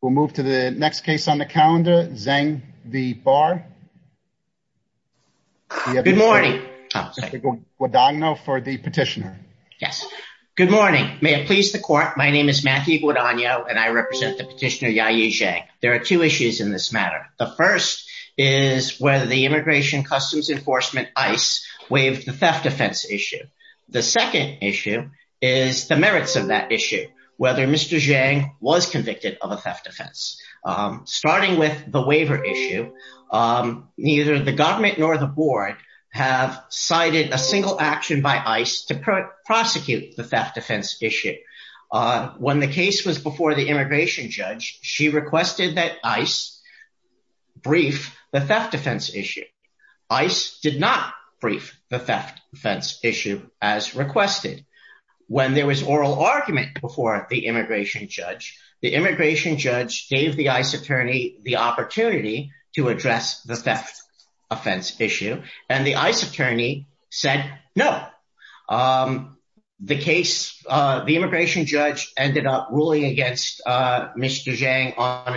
We'll move to the next case on the calendar, Zeng v. Barr. Good morning. Guadagno for the petitioner. Yes. Good morning. May it please the court, my name is Matthew Guadagno and I represent the petitioner, Ya-Yi Zhang. There are two issues in this matter. The first is whether the Immigration Customs Enforcement, ICE, waived the theft defense issue. The second is the merits of that issue, whether Mr. Zhang was convicted of a theft defense. Starting with the waiver issue, neither the government nor the board have cited a single action by ICE to prosecute the theft defense issue. When the case was before the immigration judge, she requested that ICE brief the theft defense issue. ICE did not brief the theft issue as requested. When there was oral argument before the immigration judge, the immigration judge gave the ICE attorney the opportunity to address the theft offense issue, and the ICE attorney said no. The immigration judge ended up ruling against Mr. Zhang on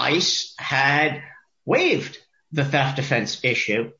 a waived the theft defense issue,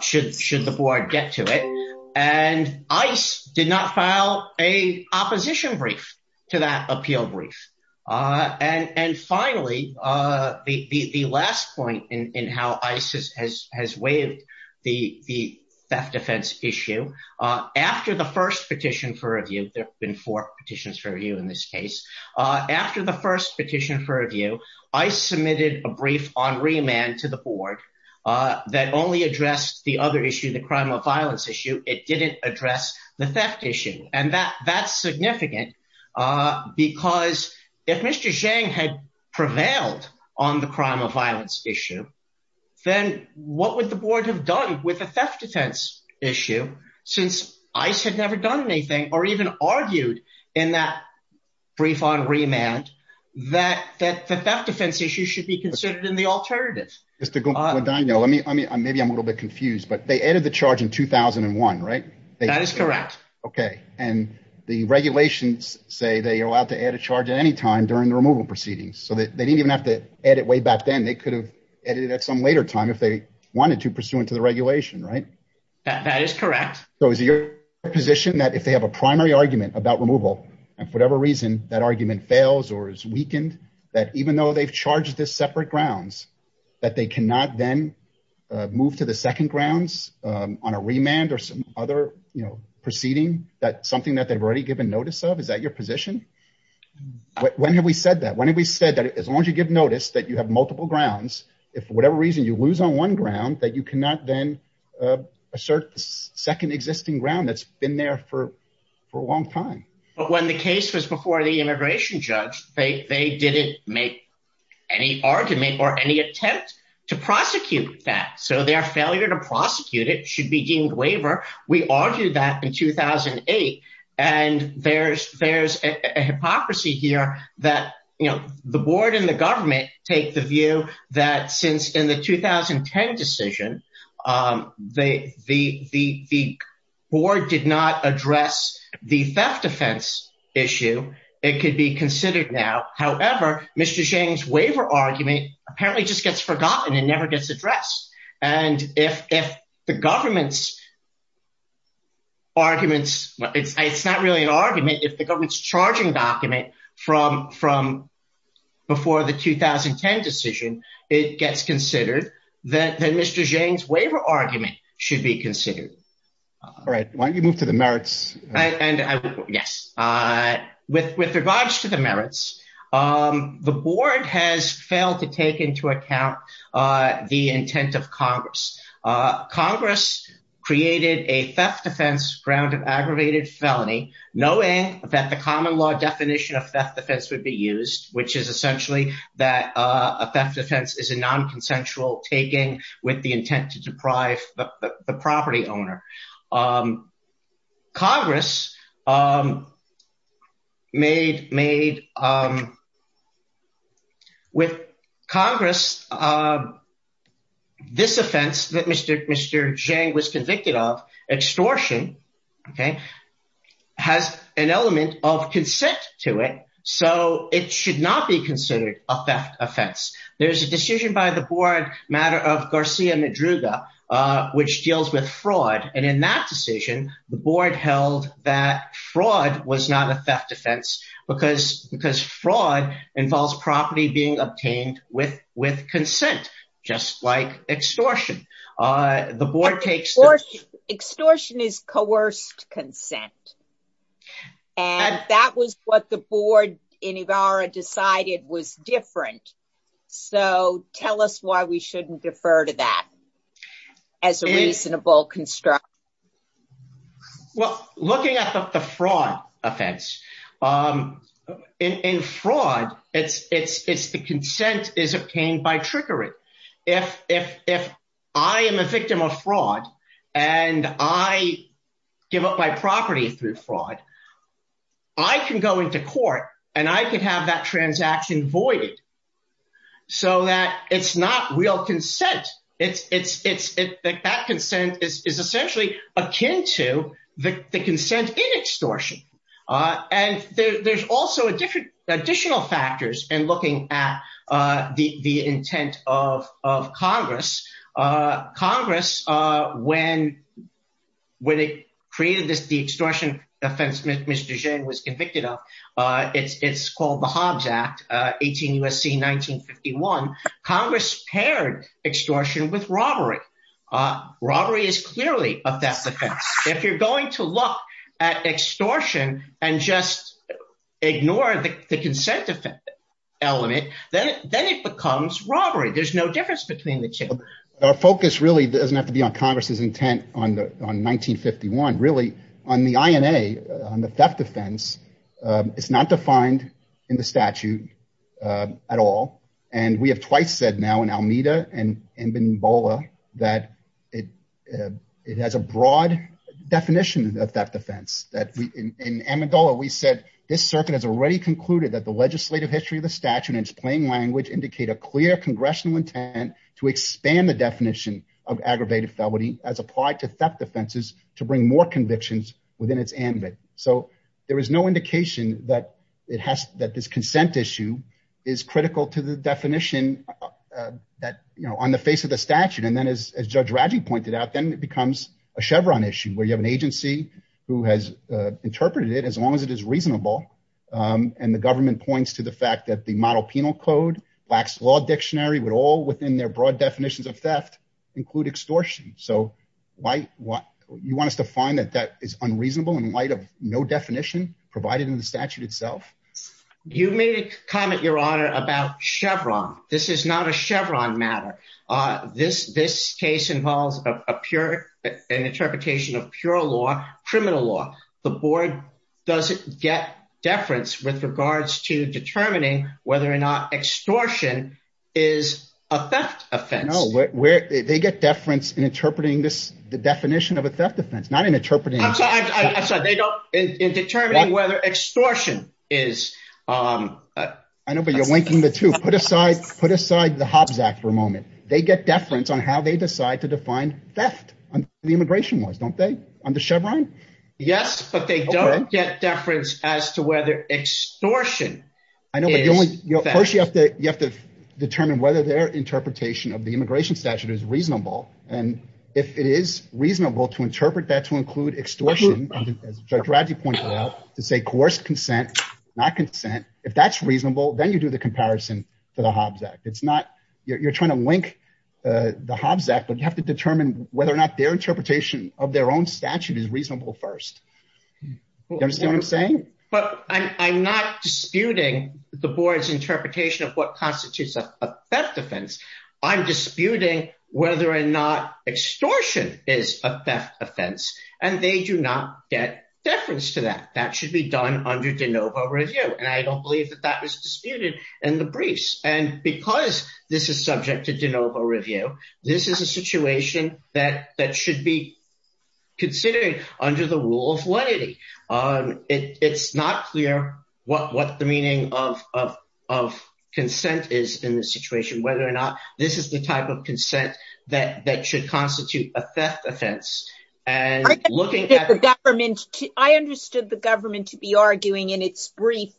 should the board get to it, and ICE did not file an opposition brief to that appeal brief. And finally, the last point in how ICE has waived the theft defense issue, after the first petition for review, there have been four petitions for review in this case, after the first petition for review, ICE submitted a brief on remand to the board that only addressed the other issue, the crime of violence issue. It didn't address the theft issue, and that's significant because if Mr. Zhang had prevailed on the crime of violence issue, then what would the board have done with the theft defense issue since ICE had never done on remand, that the theft defense issue should be considered in the alternative. Mr. Guadagno, maybe I'm a little bit confused, but they added the charge in 2001, right? That is correct. Okay, and the regulations say they are allowed to add a charge at any time during the removal proceedings, so they didn't even have to edit way back then, they could have edited at some later time if they wanted to pursuant to the regulation, right? That is correct. So is it your position that if they have a primary argument about removal, and for whatever reason, that argument fails or is weakened, that even though they've charged this separate grounds, that they cannot then move to the second grounds on a remand or some other proceeding, that's something that they've already given notice of? Is that your position? When have we said that? When have we said that as long as you give notice that you have multiple grounds, if for whatever reason you lose on one ground, that you cannot then assert the second existing ground that's been there for a long time? When the case was before the immigration judge, they didn't make any argument or any attempt to prosecute that, so their failure to prosecute it should be deemed waiver. We argued that in 2008, and there's a hypocrisy here that the board and the government take the issue. It could be considered now. However, Mr. Zhang's waiver argument apparently just gets forgotten and never gets addressed. And if the government's arguments, it's not really an argument. If the government's charging document from before the 2010 decision, it gets considered, then Mr. Zhang's waiver argument should be considered. All right. Why don't you move to the merits? And yes, with regards to the merits, the board has failed to take into account the intent of Congress. Congress created a theft defense ground of aggravated felony, knowing that the common law definition of theft defense would be used, which is essentially that a theft defense is a nonconsensual taking with the intent to deprive the property owner. With Congress, this offense that Mr. Zhang was convicted of, extortion, has an element of consent to it, so it should not be considered a theft offense. There's a decision by the board matter of Garcia Madruga, which deals with fraud, and in that decision, the board held that fraud was not a theft defense because fraud involves property being obtained with consent, just like extortion. Extortion is coerced consent, and that was what the board in Ibarra decided was different. So tell us why we shouldn't defer to that as a reasonable construct. Well, looking at the fraud offense, in fraud, the consent is obtained by trickery. If I am a victim of fraud and I give up my property through fraud, I can go into court and I can have that transaction voided so that it's not real consent. That consent is essentially akin to the consent in extortion. There's also additional factors in looking at the intent of Congress. Congress, when it created the extortion offense that Mr. Zhang was convicted of, it's called the Hobbs Act, 18 U.S.C. 1951. Congress paired extortion with robbery. Robbery is clearly a theft offense. If you're going to look at extortion and just ignore the consent element, then it becomes robbery. There's no difference between the two. Our focus really doesn't have to be on Congress's intent on 1951. On the INA, on the theft offense, it's not defined in the statute at all. We have twice said now in Almeida and in Benbola that it has a broad definition of theft offense. In Amendola, we said this circuit has already concluded that the legislative history of the statute in its plain language indicate a clear congressional intent to expand the definition of aggravated felony as applied to theft offenses to bring more convictions within its ambit. There is no indication that this consent issue is critical to the definition on the face of the statute. Then, as Judge Radji pointed out, then it becomes a Chevron issue, where you have an agency who has interpreted it as long as it is reasonable. The government points to the fact that the model penal code, Black's Law Dictionary, would all, within their broad definitions of theft, include extortion. You want us to find that that is unreasonable in light of no definition provided in the statute itself? You may comment, Your Honor, about Chevron. This is not a Chevron matter. This case involves an interpretation of pure law, criminal law. The board doesn't get deference with regards to determining whether or not extortion is a theft offense. They get deference in interpreting the definition of a theft offense, not in interpreting... I'm sorry. They don't, in determining whether extortion is... I know, but you're linking the two. Put aside the Hobbs Act for a moment. They get deference on how they decide to define theft on the immigration laws, don't they? On the Chevron? Yes, but they don't get deference as to whether extortion is... I know, but first you have to determine whether their interpretation of the immigration statute is reasonable. And if it is reasonable to interpret that to include extortion, as Judge Radji pointed out, to say coerced consent, not consent, if that's reasonable, then you do the comparison to the Hobbs Act. It's not... You're trying to link the Hobbs Act, but you have to determine whether or not their interpretation of their own statute is reasonable first. You understand what I'm saying? But I'm not disputing the board's interpretation of what constitutes a theft offense. I'm disputing whether or not extortion is a theft offense, and they do not get deference to that. That should be done under de novo review, and I don't believe that that was disputed in the briefs. And because this is subject to de novo review, this is a situation that should be considered under the rule of lenity. It's not clear what the meaning of consent is in this situation, whether or not this is the type of consent that should constitute a theft offense. And looking at the government... I understood the government to be arguing in its brief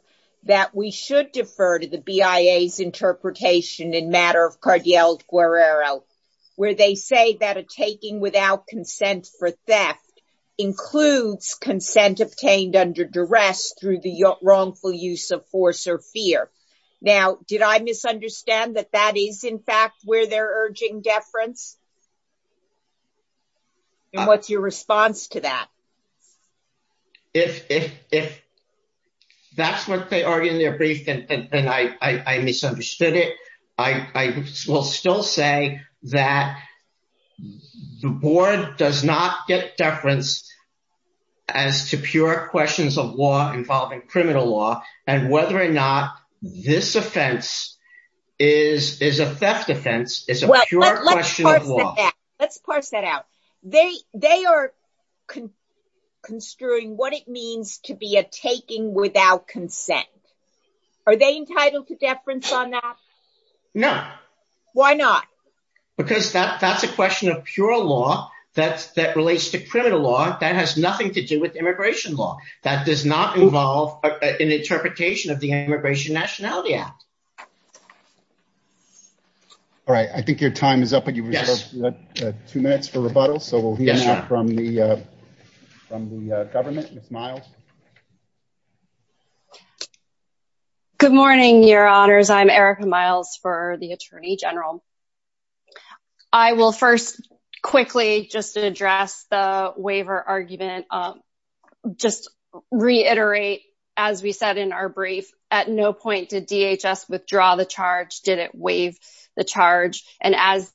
that we should defer to the BIA's interpretation in matter of Cardial Guerrero, where they say that a taking without consent for theft includes consent obtained under duress through the wrongful use of force or fear. Now, did I misunderstand that that is, in fact, where they're urging deference? And what's your response to that? If that's what they argue in their brief, and I misunderstood it, I will still say that the board does not get deference as to pure questions of law involving criminal law, and whether or not this offense is a theft offense is a pure question of law. Let's parse that out. They are construing what it means to be a taking without consent. Are they entitled to deference on that? No. Why not? Because that's a question of pure law that relates to criminal law that has nothing to do with immigration law. That does not involve an interpretation of the Immigration Nationality Act. All right. I think your time is up, but you have two minutes for rebuttal, so we'll hear from the government. Good morning, Your Honors. I'm Erica Miles for the Attorney General. I will first quickly just address the waiver argument. I'll just reiterate, as we said in our brief, at no point did DHS withdraw the charge, did it waive the charge. And as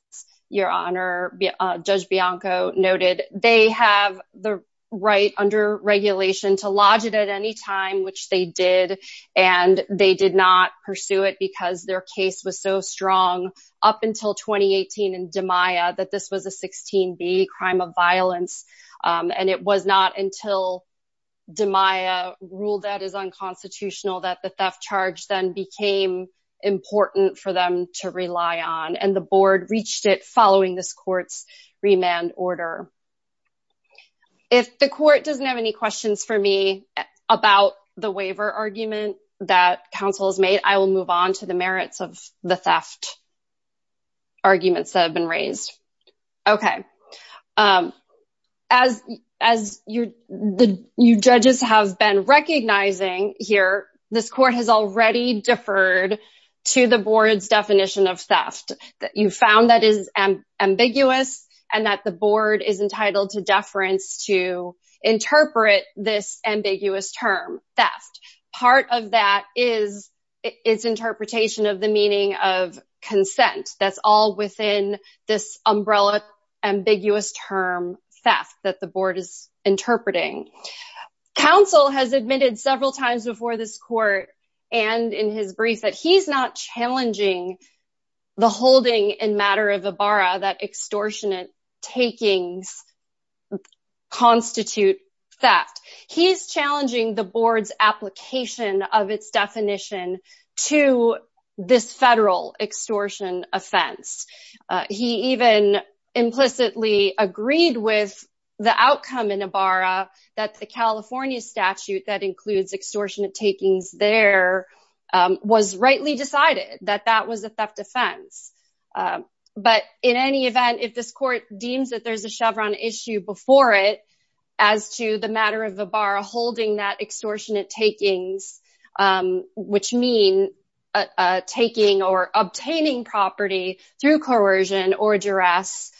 Your Honor, Judge Bianco noted, they have the right under regulation to lodge it at any time, which they did. And they did not pursue it because their case was so strong up until 2018 in DiMaia that this was a 16B crime of violence. And it was not until DiMaia ruled that is unconstitutional that the theft charge then became important for them to rely on. And the board reached it following this court's remand order. If the court doesn't have any questions for me about the waiver argument that counsel has made, I will move on to the merits of the theft arguments that have been raised. Okay. As you judges have been recognizing here, this court has already deferred to the board's definition of theft that you found that is ambiguous and that the board is entitled to deference to interpret this ambiguous term theft. Part of that is its interpretation of the meaning of consent. That's all within this umbrella ambiguous term theft that the board is interpreting. Counsel has admitted several times before this court and in his brief that he's not challenging the holding in matter of Ibarra that extortionate takings constitute theft. He's challenging the board's application of its definition to this federal extortion offense. He even implicitly agreed with the outcome in Ibarra that the California statute that includes extortionate takings there was rightly decided that that was a theft offense. But in any event, if this court deems that there's a Chevron issue before it as to the matter of Ibarra holding that extortionate takings, which mean taking or obtaining property through coercion or duress,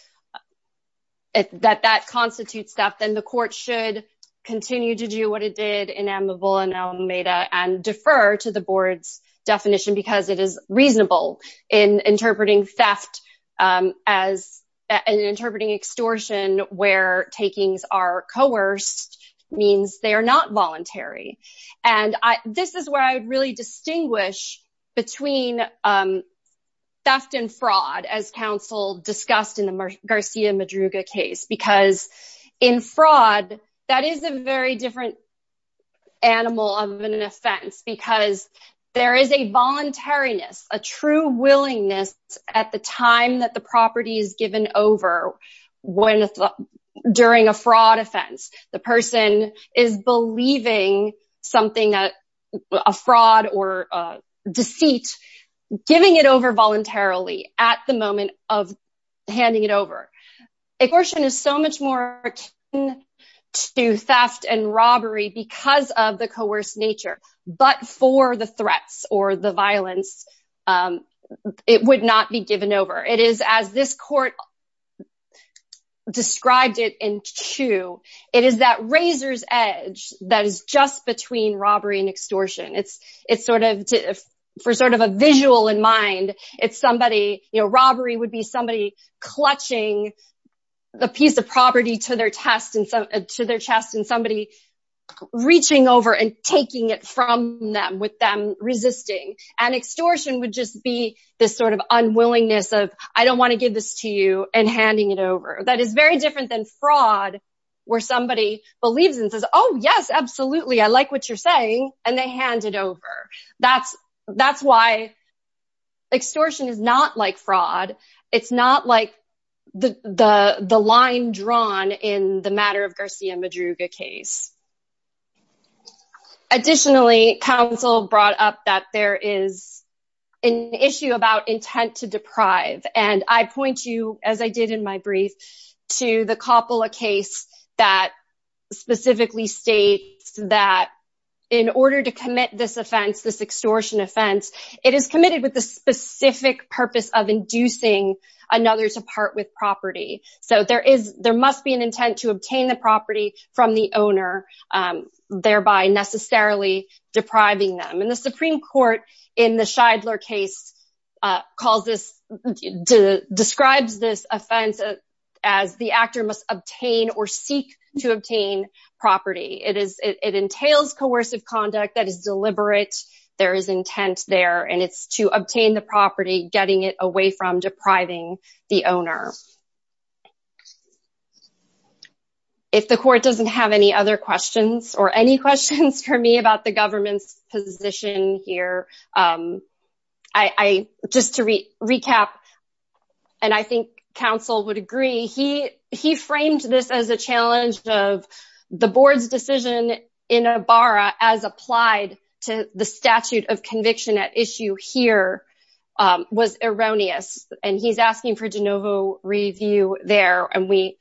that that constitutes theft, then the court should continue to do what it did in Amavula and Alameda and defer to the board's definition because it is reasonable in interpreting theft as an interpreting extortion where takings are coerced means they are not voluntary. And this is where I would really distinguish between theft and fraud as counsel discussed in the Garcia Madruga case because in fraud, that is a very different animal of an offense because there is a voluntariness, a true willingness at the time that the property is given over during a fraud offense. The person is believing something, a fraud or a deceit, giving it over voluntarily at the moment of handing it over. Extortion is so much more akin to theft and robbery because of the coerced nature, but for the threats or the violence, it would not be given over. It is as this court described it in two. It is that razor's edge that is just between robbery and extortion. For sort of a visual in mind, robbery would be somebody clutching the piece of property to their chest and somebody reaching over and taking it from them with them resisting. And extortion would just be this sort of unwillingness of, I don't want to give this to you and handing it over. That is very different than fraud where somebody believes and says, oh yes, absolutely, I like what you're saying. And they hand it over. That's why extortion is not like fraud. It's not like the line drawn in the matter of Garcia Madruga case. Additionally, counsel brought up that there is an issue about intent to deprive. And I point to, as I did in my brief, to the Coppola case that specifically states that in order to commit this extortion offense, it is committed with the specific purpose of inducing another to part with property. So there must be an intent to obtain the property from the owner, thereby necessarily depriving them. The Supreme Court in the Scheidler case describes this offense as the actor must obtain or seek to obtain property. It entails coercive conduct that is deliberate. There is intent there. And it's to obtain the property, getting it away from depriving the owner. If the court doesn't have any other questions or any questions for me about the government's position here, just to recap, and I think counsel would agree, he framed this as a challenge of the board's decision in Ibarra as applied to the statute of conviction at issue here was erroneous. And he's asking for de novo review there. And we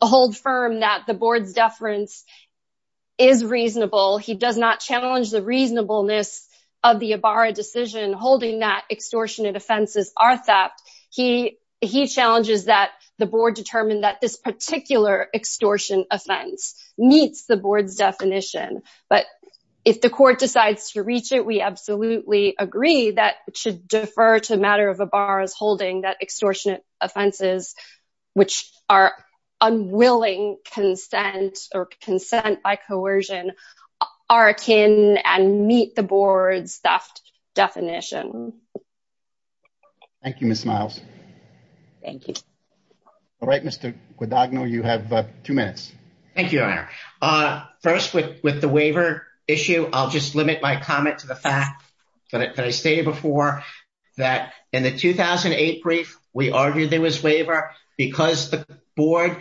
hold firm that the board's deference is reasonable. He does not challenge the reasonableness of the Ibarra decision holding that extortionate offenses are theft. He challenges that the board determined that this particular extortion offense meets the board's definition. But if the court decides to reach it, we absolutely agree that it should defer to a matter of Ibarra's holding that extortionate offenses, which are unwilling consent or consent by coercion, are akin and meet the board's theft definition. Thank you, Ms. Miles. Thank you. All right, Mr. Guadagno, you have two minutes. Thank you, Your Honor. First, with the waiver issue, I'll just limit my comment to the fact that I stated before that in the 2008 brief, we argued there was waiver because the board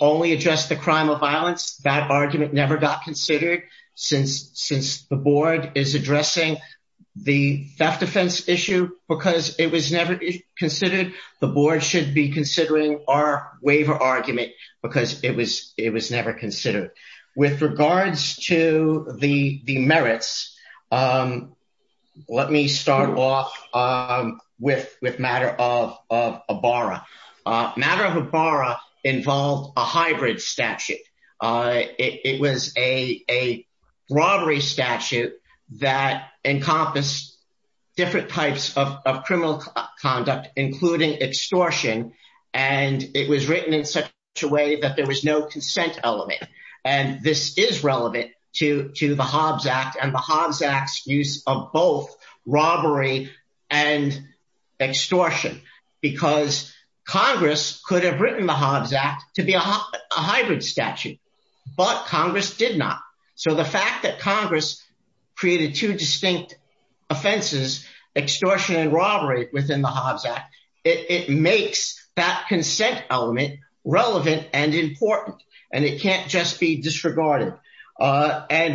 only addressed the crime of violence. That argument never got considered. Since the board is addressing the theft defense issue because it was never considered, the board should be considering our waiver argument because it was never considered. With regards to the merits, let me start off with matter of Ibarra. Matter of Ibarra involved a hybrid statute. It was a robbery statute that encompassed different types of criminal conduct, including extortion, and it was written in such a way that there was no consent element. This is relevant to the Hobbs Act and the Hobbs Act's use of both robbery and extortion because Congress could have written the Hobbs Act to be a hybrid statute, but Congress did not. The fact that Congress created two distinct offenses, extortion and robbery, within the disregarded.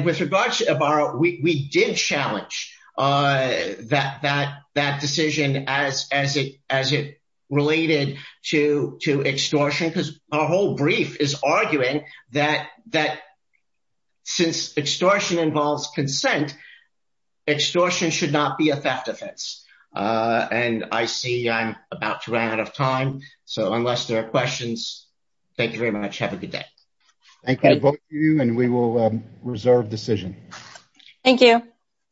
With regards to Ibarra, we did challenge that decision as it related to extortion because our whole brief is arguing that since extortion involves consent, extortion should not be a theft offense. I see I'm about to run out of time, so unless there are questions, thank you very much. Have a good day. Thank you, both of you, and we will reserve decision. Thank you.